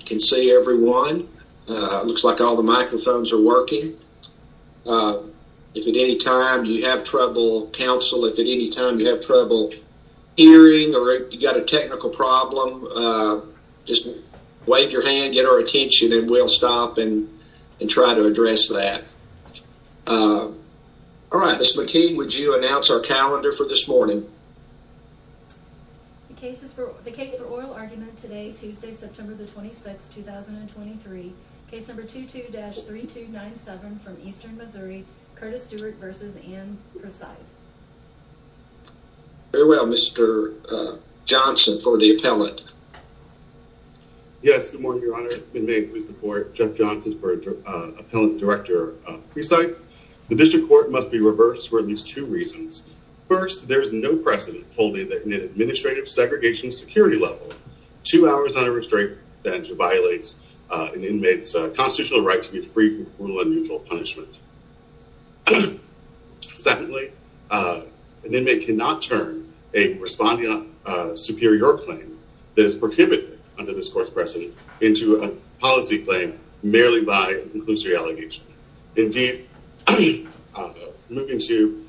You can see everyone. It looks like all the microphones are working. If at any time you have trouble, counsel, if at any time you have trouble hearing or if you've got a technical problem, just wave your hand, get our attention, and we'll stop and and try to address that. All right, Ms. McKean, would you announce our calendar for this morning? The case for oral argument today, Tuesday, September the 26th, 2023. Case number 22-3297 from Eastern Missouri, Curtis Stewart v. Anne Precythe. Very well, Mr. Johnson for the appellant. Yes, good morning, Your Honor. Ben May, who is the court, Jeff Johnson for Appellant Director Precythe. The district court must be reversed for at least two reasons. First, there is no precedent holding that an administrative segregation security level, two hours on a restraint, that violates an inmate's constitutional right to get free from brutal and mutual punishment. Secondly, an inmate cannot turn a responding superior claim that is prohibited under this court's precedent into a policy claim merely by a conclusive allegation. Indeed, moving to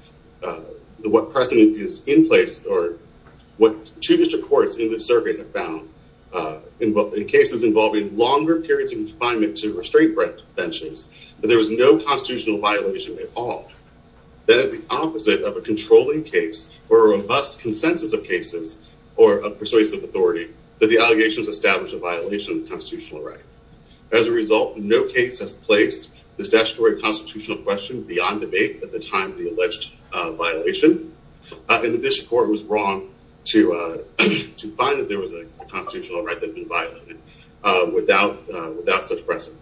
what precedent is in place or what two district courts in the survey have found in cases involving longer periods of confinement to restraint benches, that there was no constitutional violation at all. That is the opposite of a controlling case or a robust consensus of cases or a persuasive authority that the allegations establish a violation of the constitutional right. As a result, no case has placed the statutory constitutional question beyond debate at the time of the alleged violation and the district court was wrong to to find that there was a constitutional right that had been violated without such precedent.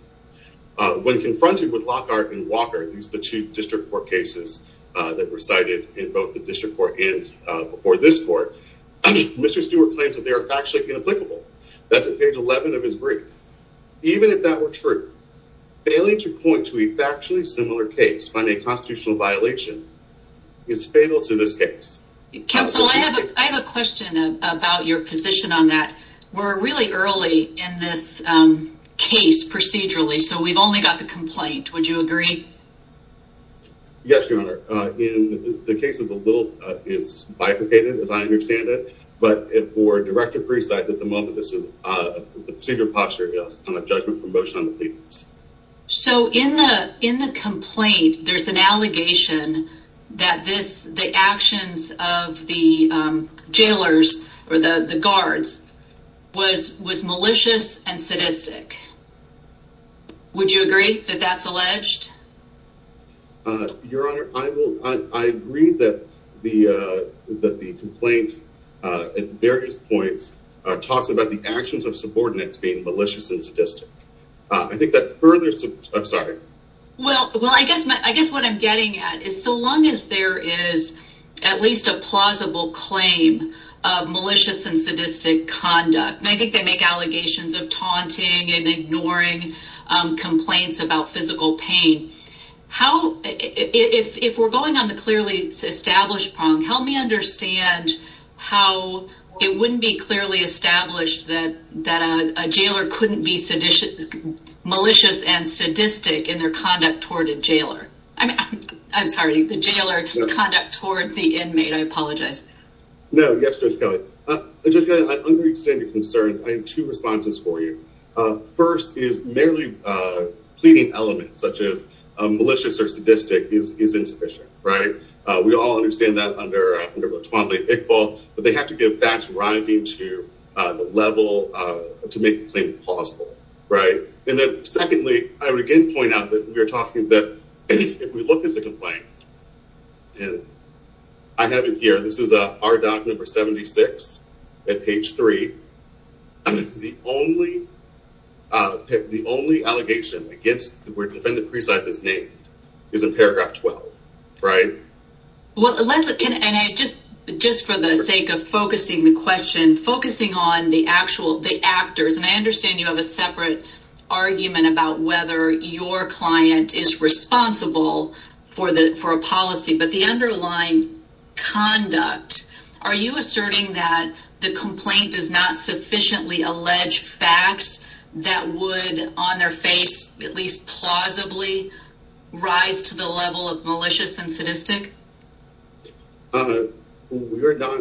When confronted with Lockhart and Walker, at least the two district court cases that were cited in both the district court and before this court, Mr. Stewart claims that they are actually inapplicable. That's at page 11 of his brief. Even if that were true, failing to point to a factually similar case by a constitutional violation is fatal to this case. Counsel, I have a question about your position on that. We're really early in this case procedurally, so we've only got the complaint. Would you agree? Yes, your honor. The case is a little, is bifurcated as I understand it, but for director Precite that the moment this is the procedure posture is on a judgment from motion on the papers. So in the in the complaint there's an allegation that this the actions of the jailers or the the guards was was malicious and sadistic. Would you agree that that's alleged? Your honor, I will, I agree that the that the complaint at various points talks about the actions of subordinates being malicious and sadistic. I think that further, I'm sorry. Well, well I guess, I guess what I'm getting at is so long as there is at least a plausible claim of malicious and sadistic conduct. I think they make allegations of taunting and ignoring complaints about physical pain. How, if we're going on the clearly established prong, help me understand how it wouldn't be clearly established that that a jailer couldn't be malicious and sadistic in their conduct toward a jailer. I mean, I'm sorry, the jailer's conduct toward the inmate. I apologize. No, yes, Judge Kelly. Judge Kelly, I understand your concerns. I have two responses for you. First is merely pleading elements such as we all understand that under 12A Iqbal, but they have to give facts rising to the level to make the claim plausible, right? And then secondly, I would again point out that we are talking that if we look at the complaint, and I have it here, this is our doc number 76 at page three. The only, the only allegation against the defendant preside this name is in paragraph 12, right? Well, let's, can I just, just for the sake of focusing the question, focusing on the actual, the actors, and I understand you have a separate argument about whether your client is responsible for the, for a policy, but the underlying conduct, are you asserting that the complaint does not sufficiently allege facts that would on their face at least plausibly rise to the level of malicious and sadistic? We're not,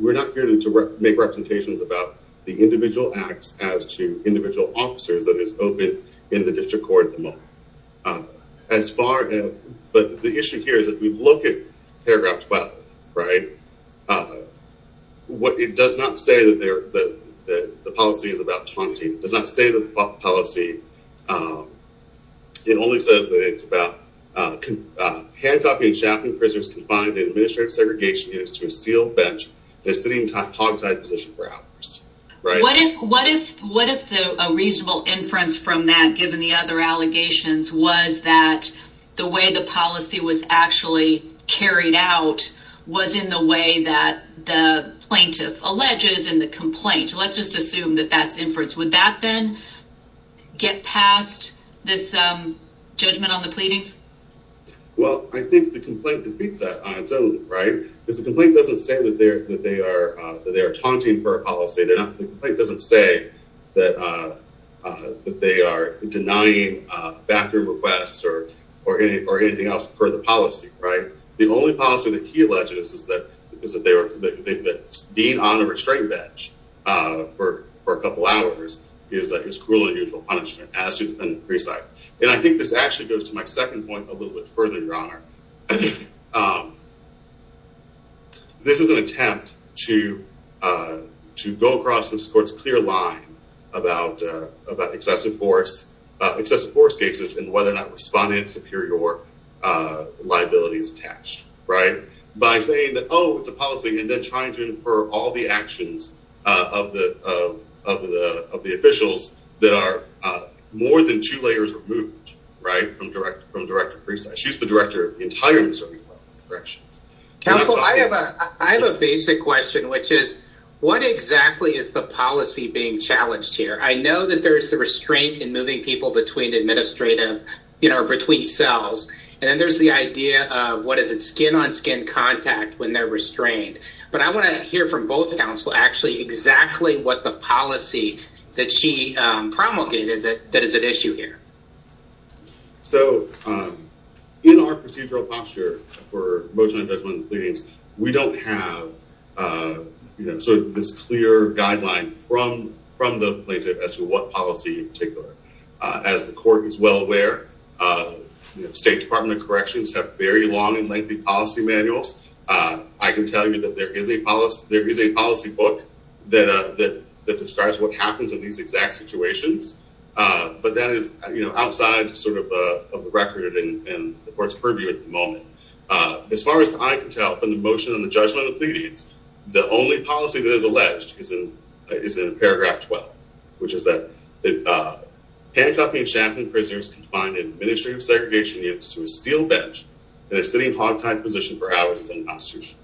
we're not here to make representations about the individual acts as to individual officers that is open in the district court at the moment. As far, but the issue here is that we look at the policy is about taunting. It does not say the policy, it only says that it's about handcuffing and chaffing prisoners confined in administrative segregation units to a steel bench in a sitting hogtie position for hours, right? What if, what if, what if a reasonable inference from that given the other allegations was that the way the policy was actually carried out was in the way that the plaintiff alleges in the complaint, let's just assume that that's inference. Would that then get past this judgment on the pleadings? Well, I think the complaint defeats that on its own, right? Because the complaint doesn't say that they're, that they are, that they are taunting for a policy. They're not, the complaint doesn't say that, that they are denying bathroom requests or, or any, or anything else for the policy, right? The only policy that he alleges is that, is that they were, that being on a restraint bench for, for a couple hours is cruel and unusual punishment as to defendant preside. And I think this actually goes to my second point a little bit further, your honor. This is an attempt to, to go across the court's clear line about, about excessive force, excessive force cases and whether or not respondent superior liability is attached, right? By saying that, oh, it's a policy, and then trying to infer all the actions of the, of the, of the officials that are more than two layers removed, right? From direct, from Director Priestley. She's the director of the entire Missouri Department of Corrections. Counsel, I have a, I have a basic question, which is, what exactly is the policy being challenged here? I know that there is the restraint in moving people between administrative, you know, between cells, and then there's the idea of, what is it, skin-on-skin contact when they're restrained. But I want to hear from both counsel actually exactly what the policy that she promulgated that, that is at issue here. So, in our procedural posture for motion and judgment pleadings, we don't have, you know, sort of this clear guideline from, from the plaintiff as to what policy in particular. As the court is well aware, you know, State Department of Corrections have very long and lengthy policy manuals. I can tell you that there is a policy, there is a policy book that, that describes what happens in these exact situations. But that is, you know, outside sort of the record and the court's purview at the moment. As far as I can tell, from the motion and the judgment of the pleadings, the only policy that is alleged is in, is in paragraph 12, which is that, that, handcuffing and shackling prisoners confined in administrative segregation units to a steel bench in a sitting hog-tied position for hours is unconstitutional.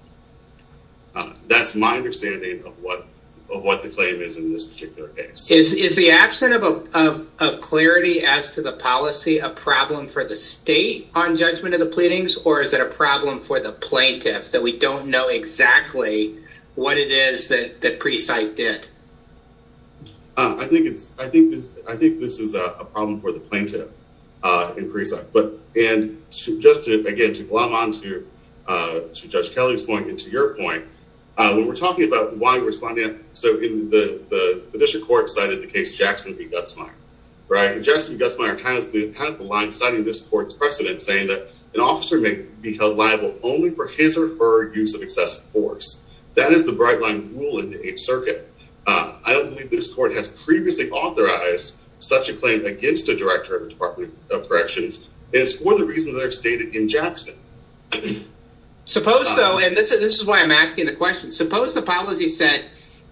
That's my understanding of what, of what the claim is in this particular case. Is, is the absence of a, of, of clarity as to the policy a problem for the State on judgment of the pleadings, or is it a problem for the plaintiff that we don't know exactly what it is that, that I think it's, I think this, I think this is a problem for the plaintiff in Precinct. But, and just to, again, to glom on to, to Judge Kelly's point and to your point, when we're talking about why we're responding, so in the, the District Court cited the case Jackson v. Gutzmeyer, right? Jackson v. Gutzmeyer has the, has the line citing this court's precedent saying that an officer may be held liable only for his or her use of excessive force. That is the bright line rule in the Eighth Circuit. I don't believe this court has previously authorized such a claim against a Director of the Department of Corrections, and it's for the reasons that are stated in Jackson. Suppose though, and this is, this is why I'm asking the question, suppose the policy said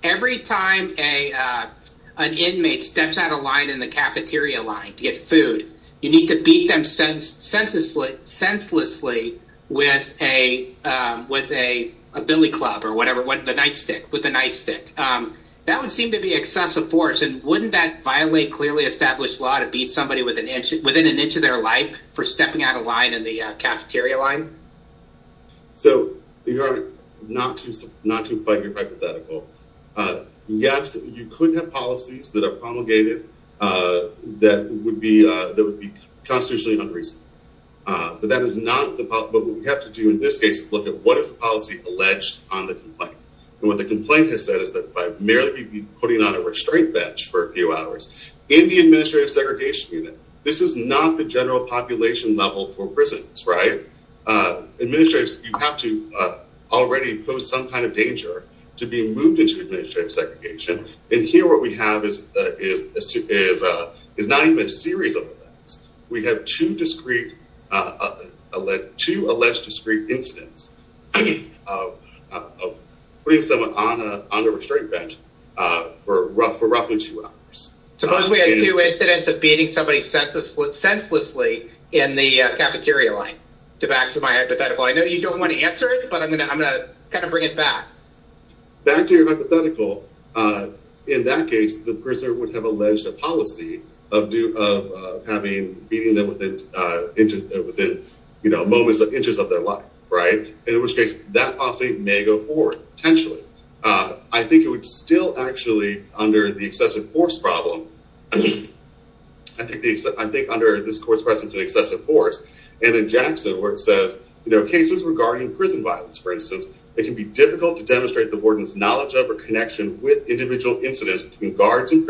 every time a, an inmate steps out of line in the cafeteria line to get food, you need to beat them senselessly, senselessly with a, with a billy club or whatever, what, the nightstick, with the nightstick. That would seem to be excessive force, and wouldn't that violate clearly established law to beat somebody with an inch, within an inch of their life for stepping out of line in the cafeteria line? So you're not to, not to fight your hypothetical. Yes, you could have policies that are promulgated that would be, that would be constitutionally unreasonable. But that is not the, but what we have to do in this case is look at what is the policy alleged on the complaint, and what the complaint has said is that by merely putting on a restraint bench for a few hours in the administrative segregation unit, this is not the general population level for prisons, right? Administrators, you have to already pose some kind of danger to being moved into administrative segregation, and here what we have is, is, is, is not a series of events. We have two discrete, uh, two alleged discrete incidents of putting someone on a, on a restraint bench, uh, for roughly two hours. Suppose we had two incidents of beating somebody senseless, senselessly in the cafeteria line. To back to my hypothetical, I know you don't want to answer it, but I'm gonna, I'm gonna kind of bring it back. Back to your hypothetical, uh, in that case the prisoner would have alleged a policy of do, of, uh, having beating them within, uh, into, within, you know, moments, inches of their life, right? In which case that policy may go forward, potentially. Uh, I think it would still actually, under the excessive force problem, I think the, I think under this court's presence in excessive force, and in Jackson where it says, you know, cases regarding prison violence, for instance, it can be difficult to demonstrate the warden's knowledge of or connection with individual incidents between guards and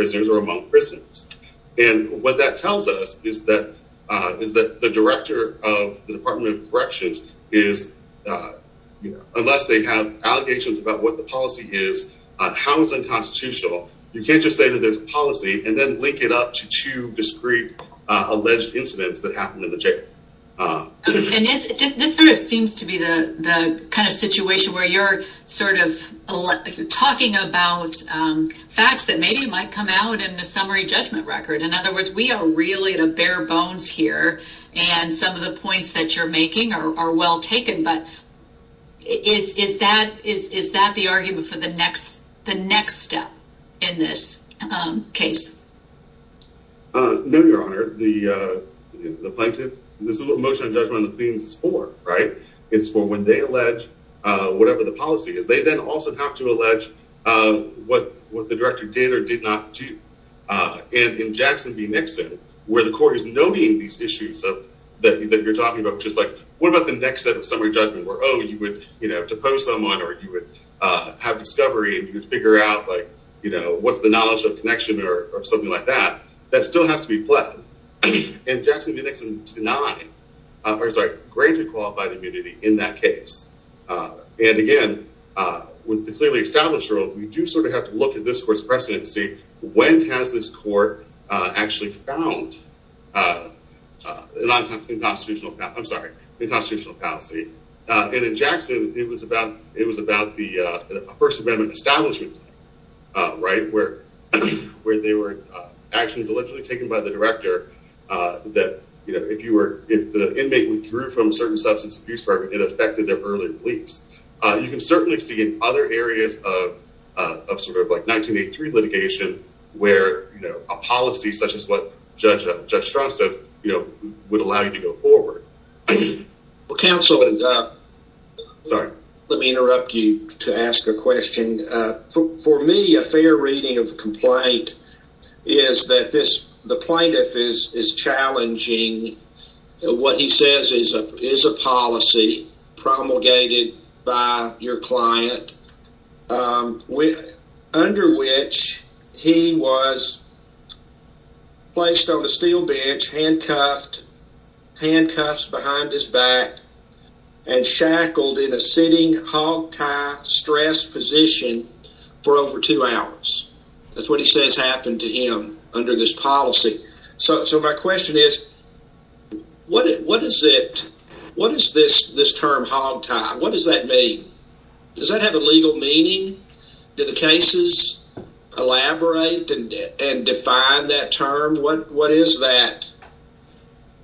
what that tells us is that, uh, is that the director of the Department of Corrections is, uh, you know, unless they have allegations about what the policy is, uh, how it's unconstitutional, you can't just say that there's a policy and then link it up to two discrete, uh, alleged incidents that happened in the jail. And this, this sort of seems to be the, the kind of situation where you're sort of talking about, um, facts that maybe might come out in the summary judgment record. In other words, we are really at a bare bones here. And some of the points that you're making are, are well taken. But is, is that, is, is that the argument for the next, the next step in this, um, case? Uh, no, your honor, the, uh, the plaintiff, this is what motion of judgment on the plebs is for, right? It's for when they allege, uh, whatever the policy is, they then also have to And in Jackson v. Nixon, where the court is noting these issues of that, that you're talking about, which is like, what about the next set of summary judgment where, oh, you would, you know, to pose someone or you would, uh, have discovery and you could figure out like, you know, what's the knowledge of connection or something like that, that still has to be pledged. And Jackson v. Nixon denied, uh, or sorry, granted qualified immunity in that case. Uh, and again, uh, with the clearly established rule, we do sort of have look at this court's presidency. When has this court, uh, actually found, uh, uh, non-constitutional, I'm sorry, the constitutional policy. Uh, and in Jackson, it was about, it was about the, uh, first amendment establishment, uh, right. Where, where they were, uh, actions allegedly taken by the director, uh, that, you know, if you were, if the inmate withdrew from certain substance abuse program, it affected their early beliefs. Uh, you can certainly see in other areas of, uh, of sort of like 1983 litigation where, you know, a policy such as what Judge, uh, Judge Strauss says, you know, would allow you to go forward. Well, counsel, let me interrupt you to ask a question. Uh, for me, a fair reading of the complaint is that this, the plaintiff is, is challenging what he says is a, is a policy promulgated by your client. Um, we, under which he was placed on a steel bench, handcuffed, handcuffs behind his back, and shackled in a sitting hogtie stress position for over two hours, that's what he says happened to him under this policy. So, so my question is, what, what is it, what is this, this term hogtie? What does that mean? Does that have a legal meaning? Do the cases elaborate and, and define that term? What, what is that,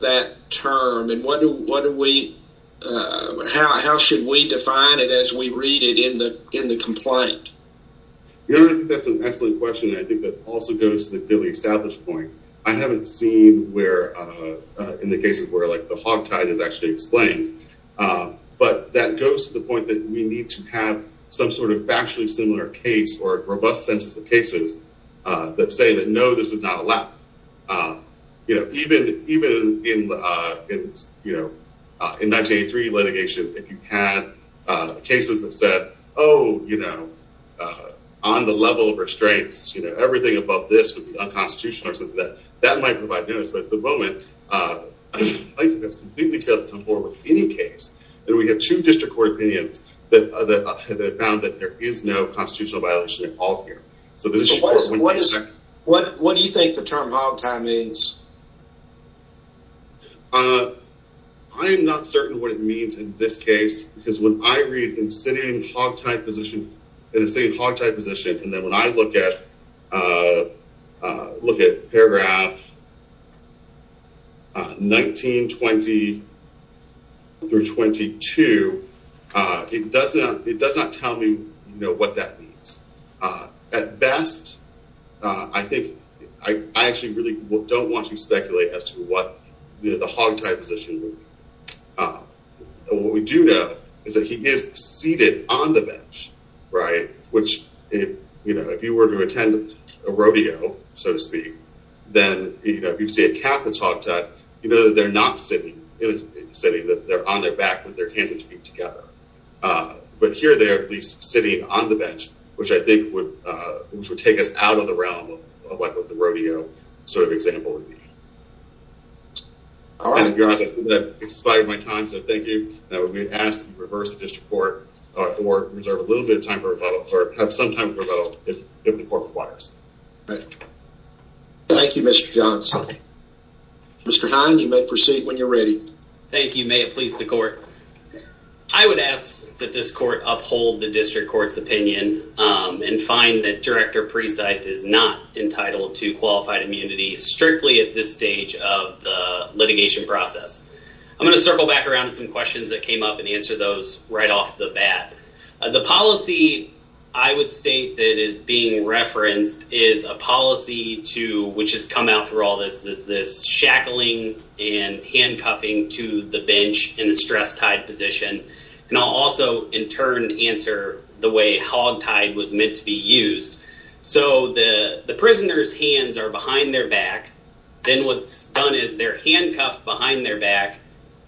that term? And what do, what do we, uh, how, how should we define it as we read it in the, in the complaint? You know, I think that's an excellent question. I think that also goes to the fairly established point. I haven't seen where, uh, uh, in the cases where like the hogtie is actually explained. Uh, but that goes to the point that we need to have some sort of actually similar case or robust census of cases, uh, that say that, no, this is not allowed. Uh, you know, even, even in, uh, in, you know, uh, in 1983 litigation, if you had, uh, cases that said, oh, you know, uh, on the level of restraints, you know, everything above this would be unconstitutional or something that, that might provide notice. But at the moment, uh, I think that's completely failed to come forward with any case. And we have two district court opinions that, uh, that have found that there is no constitutional violation at all here. So what is, what, what do you think the term hogtie means? Uh, I am not certain what it means in this case, because when I read in sitting hogtie position, in a sitting hogtie position. And then when I look at, uh, uh, look at paragraph, uh, 1920 through 22, uh, it doesn't, it does not tell me, you know, what that means, uh, at best, uh, I think I actually really don't want you to speculate as to what the hogtie position would be. Uh, and what we do know is that he is seated on the bench, right? Which if, you know, if you were to attend a rodeo, so to speak, then, you know, if you'd say a Catholic hogtie, you know, that they're not sitting in a city that they're on their back with their hands and feet together. Uh, but here they are at least sitting on the bench, which I think would, uh, which would take us out of the realm of like what the rodeo sort of example would be. All right. I see that I've expired my time. So thank you. That would be asked to reverse the district court or reserve a little bit of or have some time for a little if the court requires. Thank you, Mr. Johns. Mr. Heine, you may proceed when you're ready. Thank you. May it please the court. I would ask that this court uphold the district court's opinion, um, and find that director Precite is not entitled to qualified immunity strictly at this stage of the litigation process. I'm going to circle back around to some questions that came up and answer those right off the bat. The policy I would state that is being referenced is a policy to, which has come out through all this, is this shackling and handcuffing to the bench in a stress tied position. And I'll also in turn answer the way hog tied was meant to be used. So the, the prisoner's hands are behind their back. Then what's done is they're handcuffed behind their back.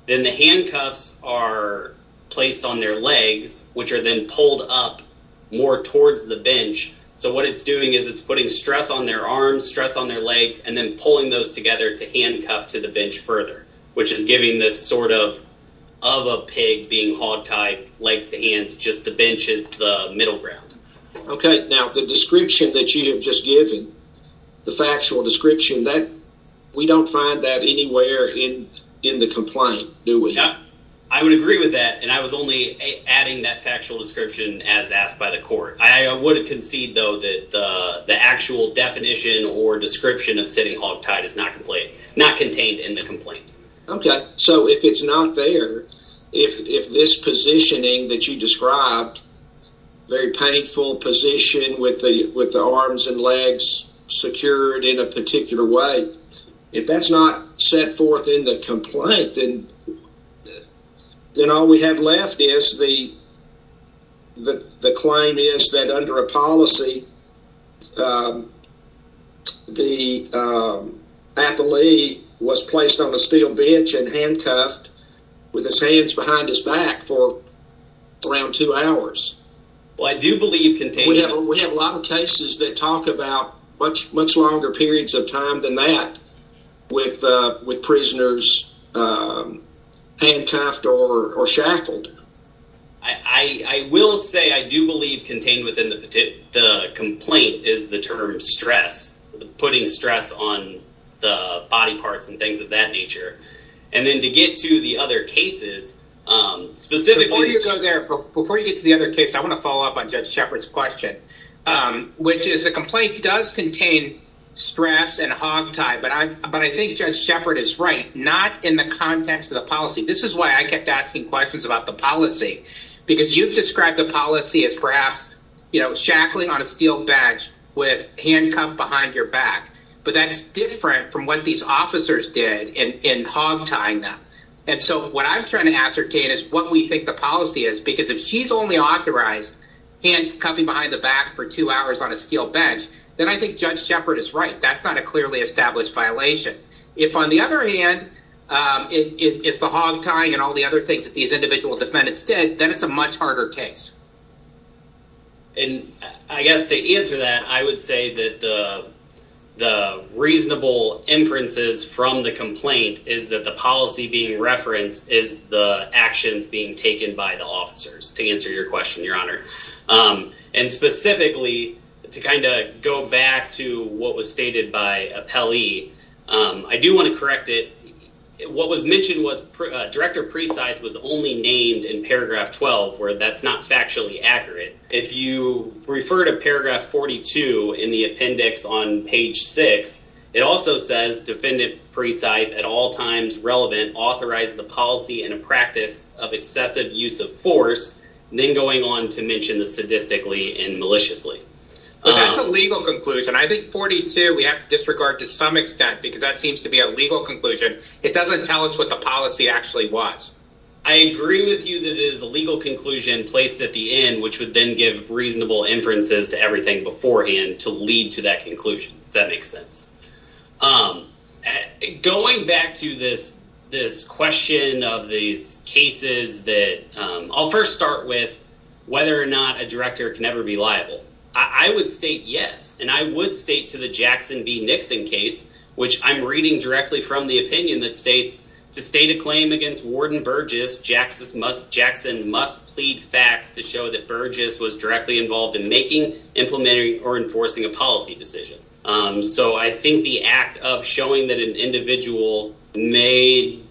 Then the handcuffs are placed on their legs, which are then pulled up more towards the bench. So what it's doing is it's putting stress on their arms, stress on their legs, and then pulling those together to handcuff to the bench further, which is giving this sort of, of a pig being hog tied legs to hands. Just the bench is the middle ground. Okay. Now the description that you have just given, the factual description that we don't find that anywhere in, in the complaint, do we? I would agree with that. And I was only adding that factual description as asked by the court. I would concede though, that the actual definition or description of sitting hog tied is not complaint, not contained in the complaint. Okay. So if it's not there, if, if this positioning that you described, very painful position with the, with the arms and legs secured in a particular way. If that's not set forth in the complaint, then, then all we have left is the, the claim is that under a policy, the athlete was placed on a steel bench and handcuffed with his hands behind his back for around two hours. Well, I do believe contained. We have a lot of cases that talk about much, much longer periods of time than that with, with prisoners, handcuffed or shackled. I will say, I do believe contained within the, the complaint is the term stress, putting stress on the body parts and things of that nature. And then to get to the other cases, specifically. Before you go there, before you get to the other case, I want to follow up on Judge Shepherd's question, which is the complaint does contain stress and hog tie. But I, but I think Judge Shepherd is right. Not in the context of the policy. This is why I kept asking questions about the policy, because you've described the policy as perhaps, you know, shackling on a steel bench with handcuffed behind your back, but that's different from what these officers did in, in hog tying them. And so what I'm trying to ascertain is what we think the policy is, because if she's only authorized handcuffing behind the back for two hours on a steel bench, then I think Judge Shepherd is right. That's not a clearly established violation. If on the other hand, it's the hog tying and all the other things that these individual defendants did, then it's a much harder case. And I guess to answer that, I would say that the, the reasonable inferences from the complaint is that the policy being referenced is the actions being taken by the officers to answer your question, Your Honor. And specifically to kind of go back to what was stated by Appellee, I do want to correct it. What was mentioned was Director Precythe was only named in paragraph 12, where that's not factually accurate. If you refer to paragraph 42 in the appendix on page six, it also says defendant Precythe at all times relevant, authorized the policy and a practice of excessive use of force, then going on to mention the sadistically and maliciously. But that's a legal conclusion. I think 42, we have to disregard to some extent because that seems to be a legal conclusion. It doesn't tell us what the policy actually was. I agree with you that it is a legal conclusion placed at the end, which would then give reasonable inferences to everything beforehand to lead to that conclusion, if that makes sense. I'm going back to this this question of these cases that I'll first start with whether or not a director can ever be liable. I would state yes, and I would state to the Jackson v. Nixon case, which I'm reading directly from the opinion that states to state a claim against Warden Burgess, Jackson must Jackson must plead facts to show that Burgess was directly involved in making, implementing or enforcing a policy decision. So I think the act of showing that an individual may.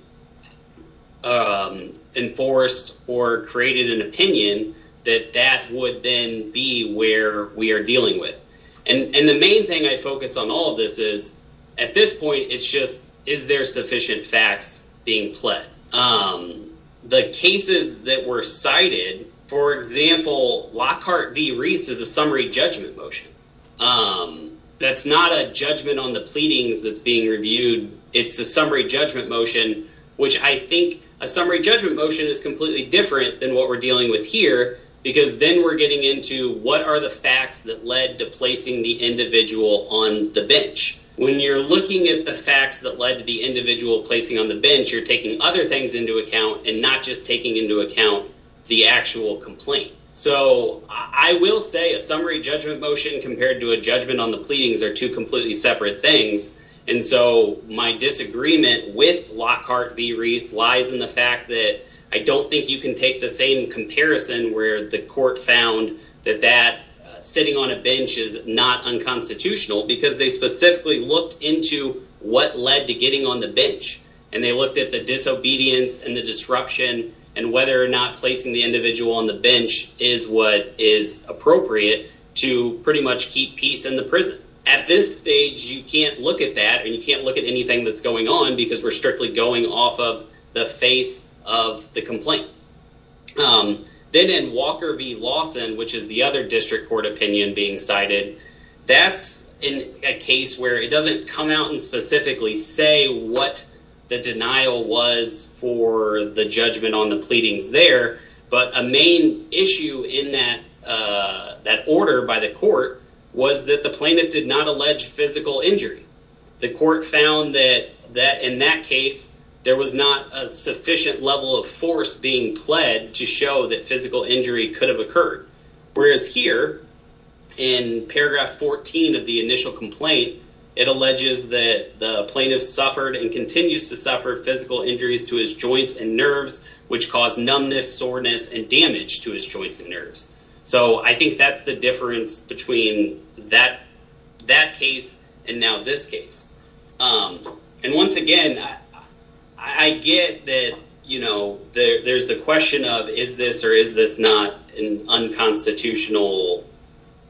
Enforced or created an opinion that that would then be where we are dealing with. And the main thing I focus on all of this is at this point, it's just is there sufficient facts being played? The cases that were cited, for example, Lockhart v. Reese is a summary judgment motion. That's not a judgment on the pleadings that's being reviewed. It's a summary judgment motion, which I think a summary judgment motion is completely different than what we're dealing with here, because then we're getting into what are the facts that led to placing the individual on the bench. When you're looking at the facts that led to the individual placing on the bench, you're taking other things into account and not just taking into account the actual complaint. So I will say a summary judgment motion compared to a judgment on the pleadings are two completely separate things. And so my disagreement with Lockhart v. Reese lies in the fact that I don't think you can take the same comparison where the court found that that sitting on a bench is not unconstitutional because they specifically looked into what led to getting on the bench. And they looked at the disobedience and the disruption and whether or not placing the bench is what is appropriate to pretty much keep peace in the prison. At this stage, you can't look at that and you can't look at anything that's going on because we're strictly going off of the face of the complaint. Then in Walker v. Lawson, which is the other district court opinion being cited, that's a case where it doesn't come out and specifically say what the denial was for the judgment on the pleadings there. But a main issue in that order by the court was that the plaintiff did not allege physical injury. The court found that in that case, there was not a sufficient level of force being pled to show that physical injury could have occurred. Whereas here in paragraph 14 of the initial complaint, it alleges that the plaintiff suffered and continues to suffer physical injuries to his joints and nerves, which cause numbness, soreness, and damage to his joints and nerves. I think that's the difference between that case and now this case. Once again, I get that there's the question of is this or is this not an unconstitutional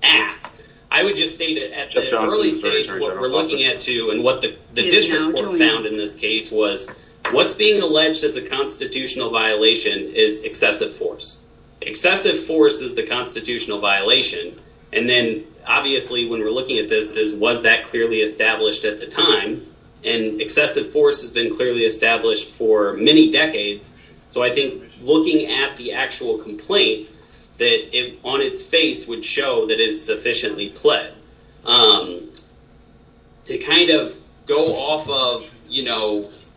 act? I would just state at the early stage what we're looking at too and what the district court found in this case was what's being alleged as a constitutional violation is excessive force. Excessive force is the constitutional violation and then obviously when we're looking at this is was that clearly established at the time and excessive force has been clearly established for many decades. So I think looking at the actual complaint that on its face would show that it's sufficiently pled to kind of go off of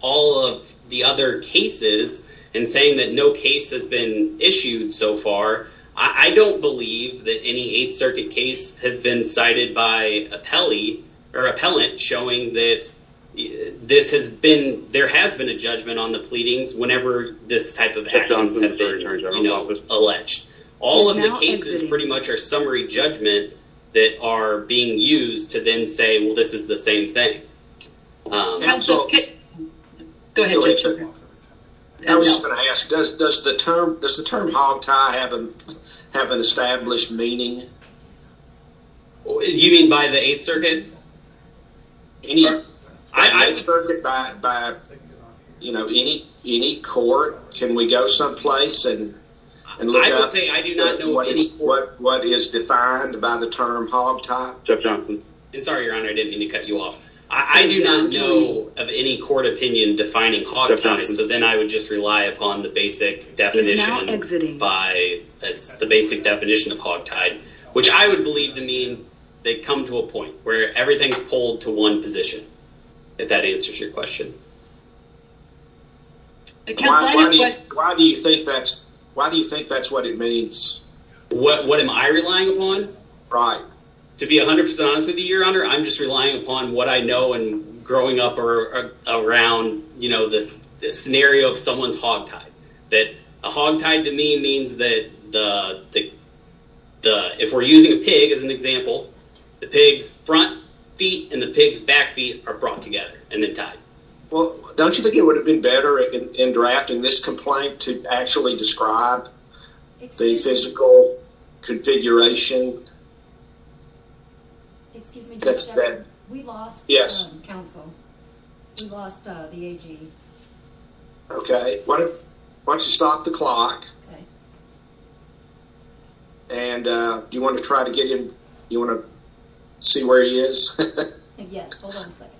all of the other cases and saying that no case has been issued so far, I don't believe that any 8th Circuit case has been cited by an appellant showing that there has been a judgment on the pleadings whenever this type of actions have been alleged. All of the cases pretty much are summary judgment that are being used to then say, well, this is the same thing. I was going to ask, does the term hog tie have an established meaning? You mean by the 8th Circuit? 8th Circuit, by any court, can we go someplace and look up what is defined by the term hog tie? I'm sorry, your honor, I didn't mean to cut you off. I do not know of any court opinion defining hog tie, so then I would just rely upon the basic definition of hog tie, which I would believe to mean they come to a point where everything's pulled to one position, if that answers your question. Why do you think that's what it means? What am I relying upon? Right. To be 100% honest with you, your honor, I'm just relying upon what I know and growing up around the scenario of someone's hog tie. That a hog tie to me means that if we're using a pig as an example, the pig's front feet and the pig's back feet are brought together and then tied. Well, don't you think it would have been better in drafting this complaint to actually describe the physical configuration? Excuse me, Judge Shepard, we lost counsel. We lost the AG. Okay, why don't you stop the clock? Okay. And do you want to try to get him, do you want to see where he is? Yes, hold on a second.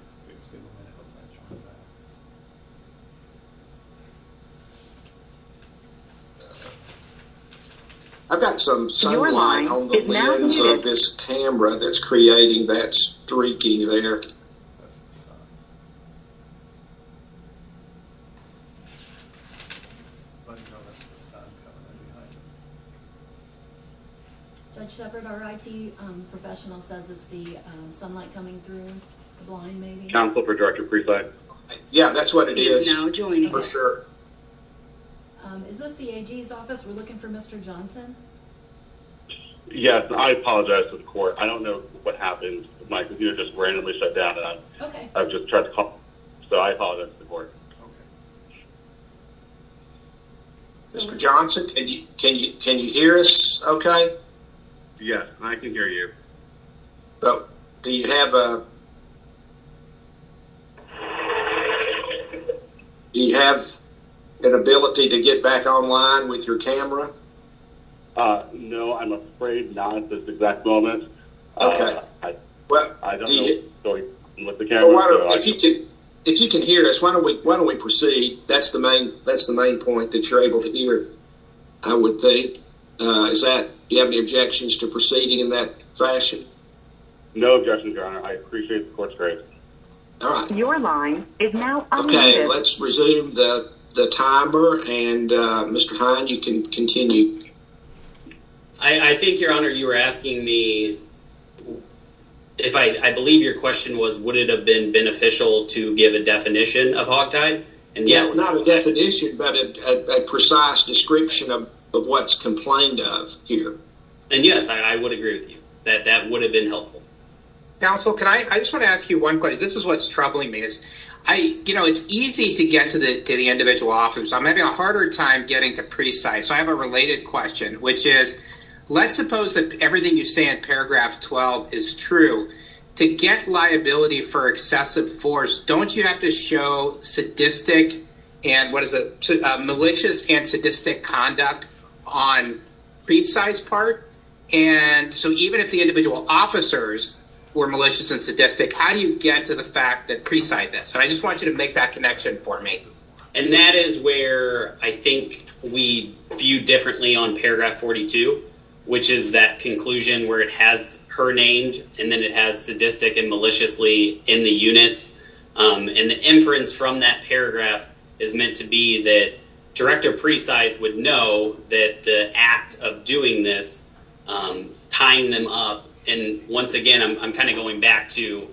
I've got some sunlight on the lens of this camera that's creating that streaking there. Judge Shepard, our IT professional says it's the sunlight coming through, the blind maybe? Counsel for Director Preside? Yeah, that's what it is. He is now joining us. For sure. Is this the AG's office? We're looking for Mr. Johnson. Yes, I apologize to the court. I don't know what happened. My computer just randomly shut down and I've just tried to call, so I apologize to the court. Okay. Mr. Johnson, can you hear us okay? Yes, I can hear you. So, do you have an ability to get back online with your camera? No, I'm afraid not at this exact moment. Okay. I don't know what's going on with the camera. If you can hear us, why don't we proceed? That's the main point that you're able to hear, I would think. Is that, do you have any objections to proceeding in that fashion? No objections, Your Honor. I appreciate the court's grace. All right. Okay, let's resume the timer and Mr. Hind, you can continue. I think, Your Honor, you were asking me, I believe your question was, would it have been beneficial to give a definition of hawktide? Not a definition, but a precise description of what's complained of here. And yes, I would agree with you that that would have been helpful. Counsel, I just want to ask you one question. This is what's troubling me. It's easy to get to the individual officer, so I'm having a harder time getting to precise. So, I have a related question, which is, let's suppose that everything you say in paragraph 12 is true. To get liability for excessive force, don't you have to show sadistic and, what is it, malicious and sadistic conduct on precise part? And so, even if the individual officers were malicious and sadistic, how do you get to the fact that precise this? And I just want you to make that connection for me. And that is where I think we view differently on paragraph 42, which is that conclusion where it has her named and then it has sadistic and maliciously in the units. And the inference from that paragraph is meant to be that director precise would know that the act of doing this, tying them up. And once again, I'm kind of going back to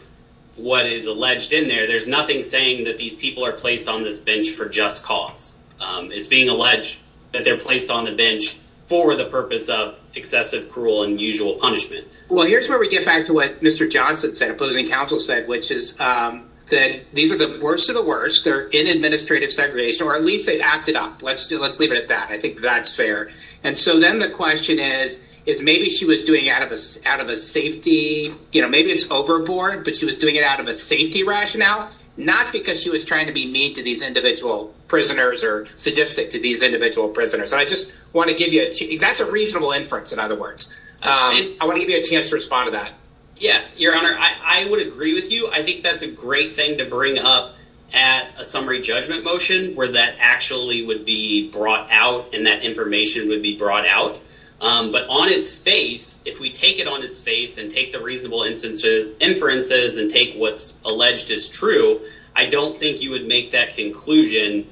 what is alleged in there. There's nothing saying that these people are placed on this bench for just cause. It's being alleged that they're placed on the bench for the purpose of excessive, cruel, and unusual punishment. Well, here's where we get back to what Mr. Johnson said, opposing counsel said, which is that these are the worst of the worst. They're in administrative segregation, or at least they've acted up. Let's do, let's leave it at that. I think that's fair. And so, then the question is, is maybe she was doing out of a safety, you know, maybe it's overboard, but she was doing it out of a safety rationale, not because she was trying to be mean to these individual prisoners or sadistic to these individual prisoners. I just want to give you that's a reasonable inference. In other words, I want to give you a chance to respond to that. Yeah, your honor, I would agree with you. I think that's a great thing to bring up at a summary judgment motion where that actually would be brought out and that information would be brought out. But on its face, if we take it on its face and take the reasonable instances, inferences and take what's alleged is true, I don't think you would make that conclusion.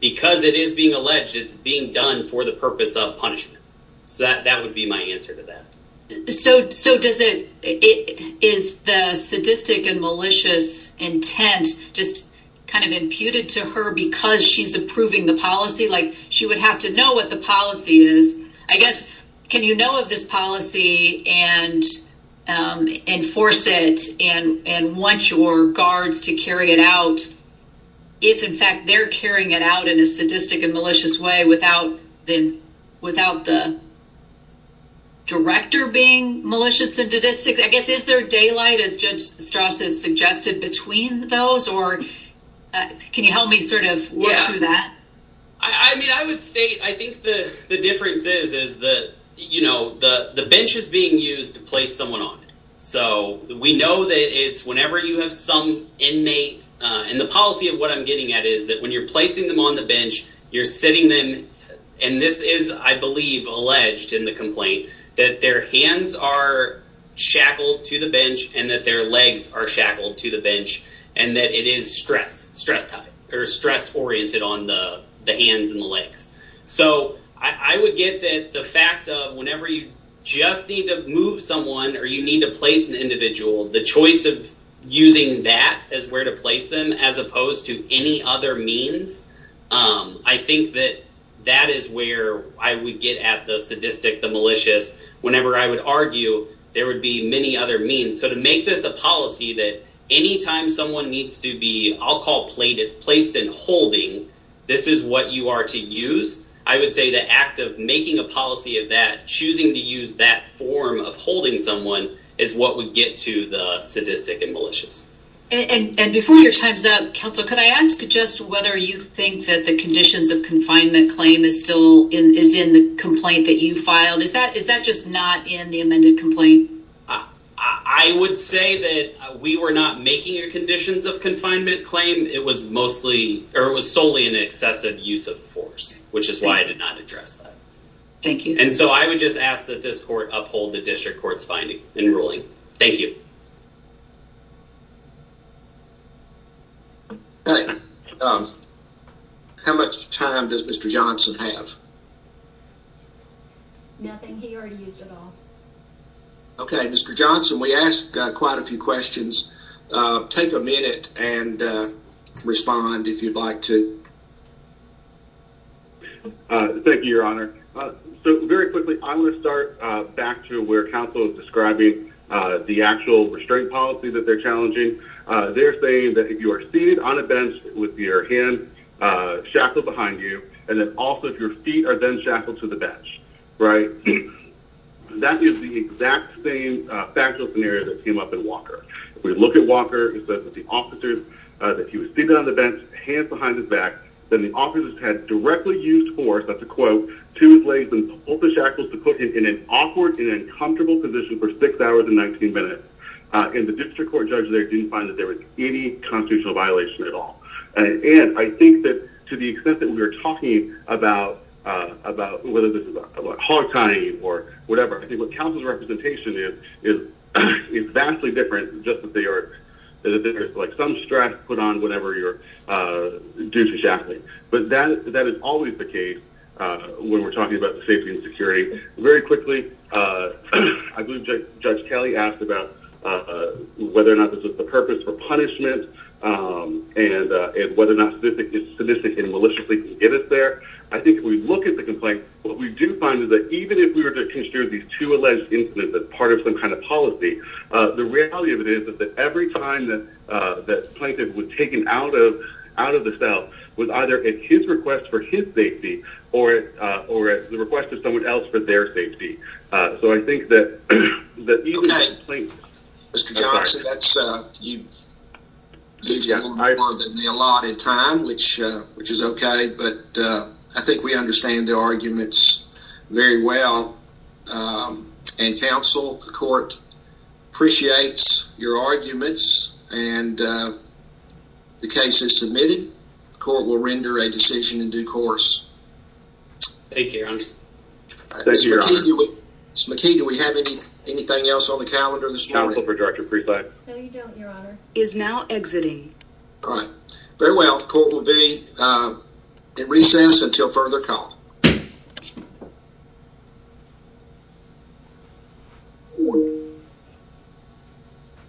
Because it is being alleged, it's being done for the purpose of punishment. So, that would be my answer to that. So, does it, is the sadistic and malicious intent just kind of imputed to her because she's approving the policy? Like, she would have to know what the policy is. I guess, can you know of this policy and enforce it and want your guards to carry it out if, in fact, they're carrying it out in a sadistic and malicious way without the director being malicious and sadistic? I guess, is there daylight, as Judge Strauss has suggested, between those? Can you help me sort of work through that? I mean, I would state, I think the difference is that, you know, the bench is being used to place someone on it. So, we know that it's whenever you have some inmate, and the policy of what I'm getting at is that when you're placing them on the bench, you're sitting them, and this is, I believe, alleged in the complaint, that their hands are shackled to the bench and that their the hands and the legs. So, I would get that the fact of whenever you just need to move someone or you need to place an individual, the choice of using that as where to place them as opposed to any other means, I think that that is where I would get at the sadistic, the malicious. Whenever I would argue, there would be many other means. So, to make this a policy that anytime someone needs to be, I'll call placed and holding, this is what you are to use. I would say the act of making a policy of that, choosing to use that form of holding someone is what would get to the sadistic and malicious. And before your time's up, counsel, could I ask just whether you think that the conditions of confinement claim is still in the complaint that you filed? Is that just not in the amended complaint? I would say that we were not making a conditions of confinement claim. It was mostly or it was solely an excessive use of force, which is why I did not address that. Thank you. And so, I would just ask that this court uphold the district court's finding in ruling. Thank you. Okay, how much time does Mr. Johnson have? Nothing, he already used it all. Okay, Mr. Johnson, we asked quite a few questions. Take a minute and respond if you'd like to. Thank you, your honor. So, very quickly, I'm going to start back to where counsel is describing the actual restraint policy that they're challenging. They're saying that if you are seated on a bench with your hand shackled behind you, and then also if your feet are then shackled to the bench, right, that is the exact same factual scenario that came up in Walker. If we look at Walker, it says that the officers, that he was seated on the bench, hands behind his back, then the officers had directly used force, that's a quote, to his legs and pulled the shackles to put him in an awkward and uncomfortable position for six hours and 19 minutes. And the district court judge there didn't find that there was any constitutional violation at all. And I think that to the extent that we were talking about whether this is hog tying or whatever, I think what counsel's representation is, is vastly different than just that they are, like some stress put on whatever you're due to shackling. But that is always the case when we're talking about safety and security. Very quickly, I believe Judge Kelly asked about whether or not this was the purpose for punishment and whether or not statistically and maliciously can get us there. I think if we look at the complaint, what we do find is that even if we were to consider these two alleged incidents as part of some kind of policy, the reality of it is that every time that the plaintiff was taken out of the cell was either at his request for his safety or at the request of someone else for their safety. So I think that even if the plaintiff... Mr. Johnson, you've used a little more than the allotted time, which is okay, but I think we understand the arguments very well. And counsel, the court appreciates your arguments and the case is submitted. The court will render a decision in due course. Thank you, your honor. Mr. McKee, do we have anything else on the calendar this morning? No, you don't, your honor. Is now exiting. All right. Very well. Court will be in recess until further call.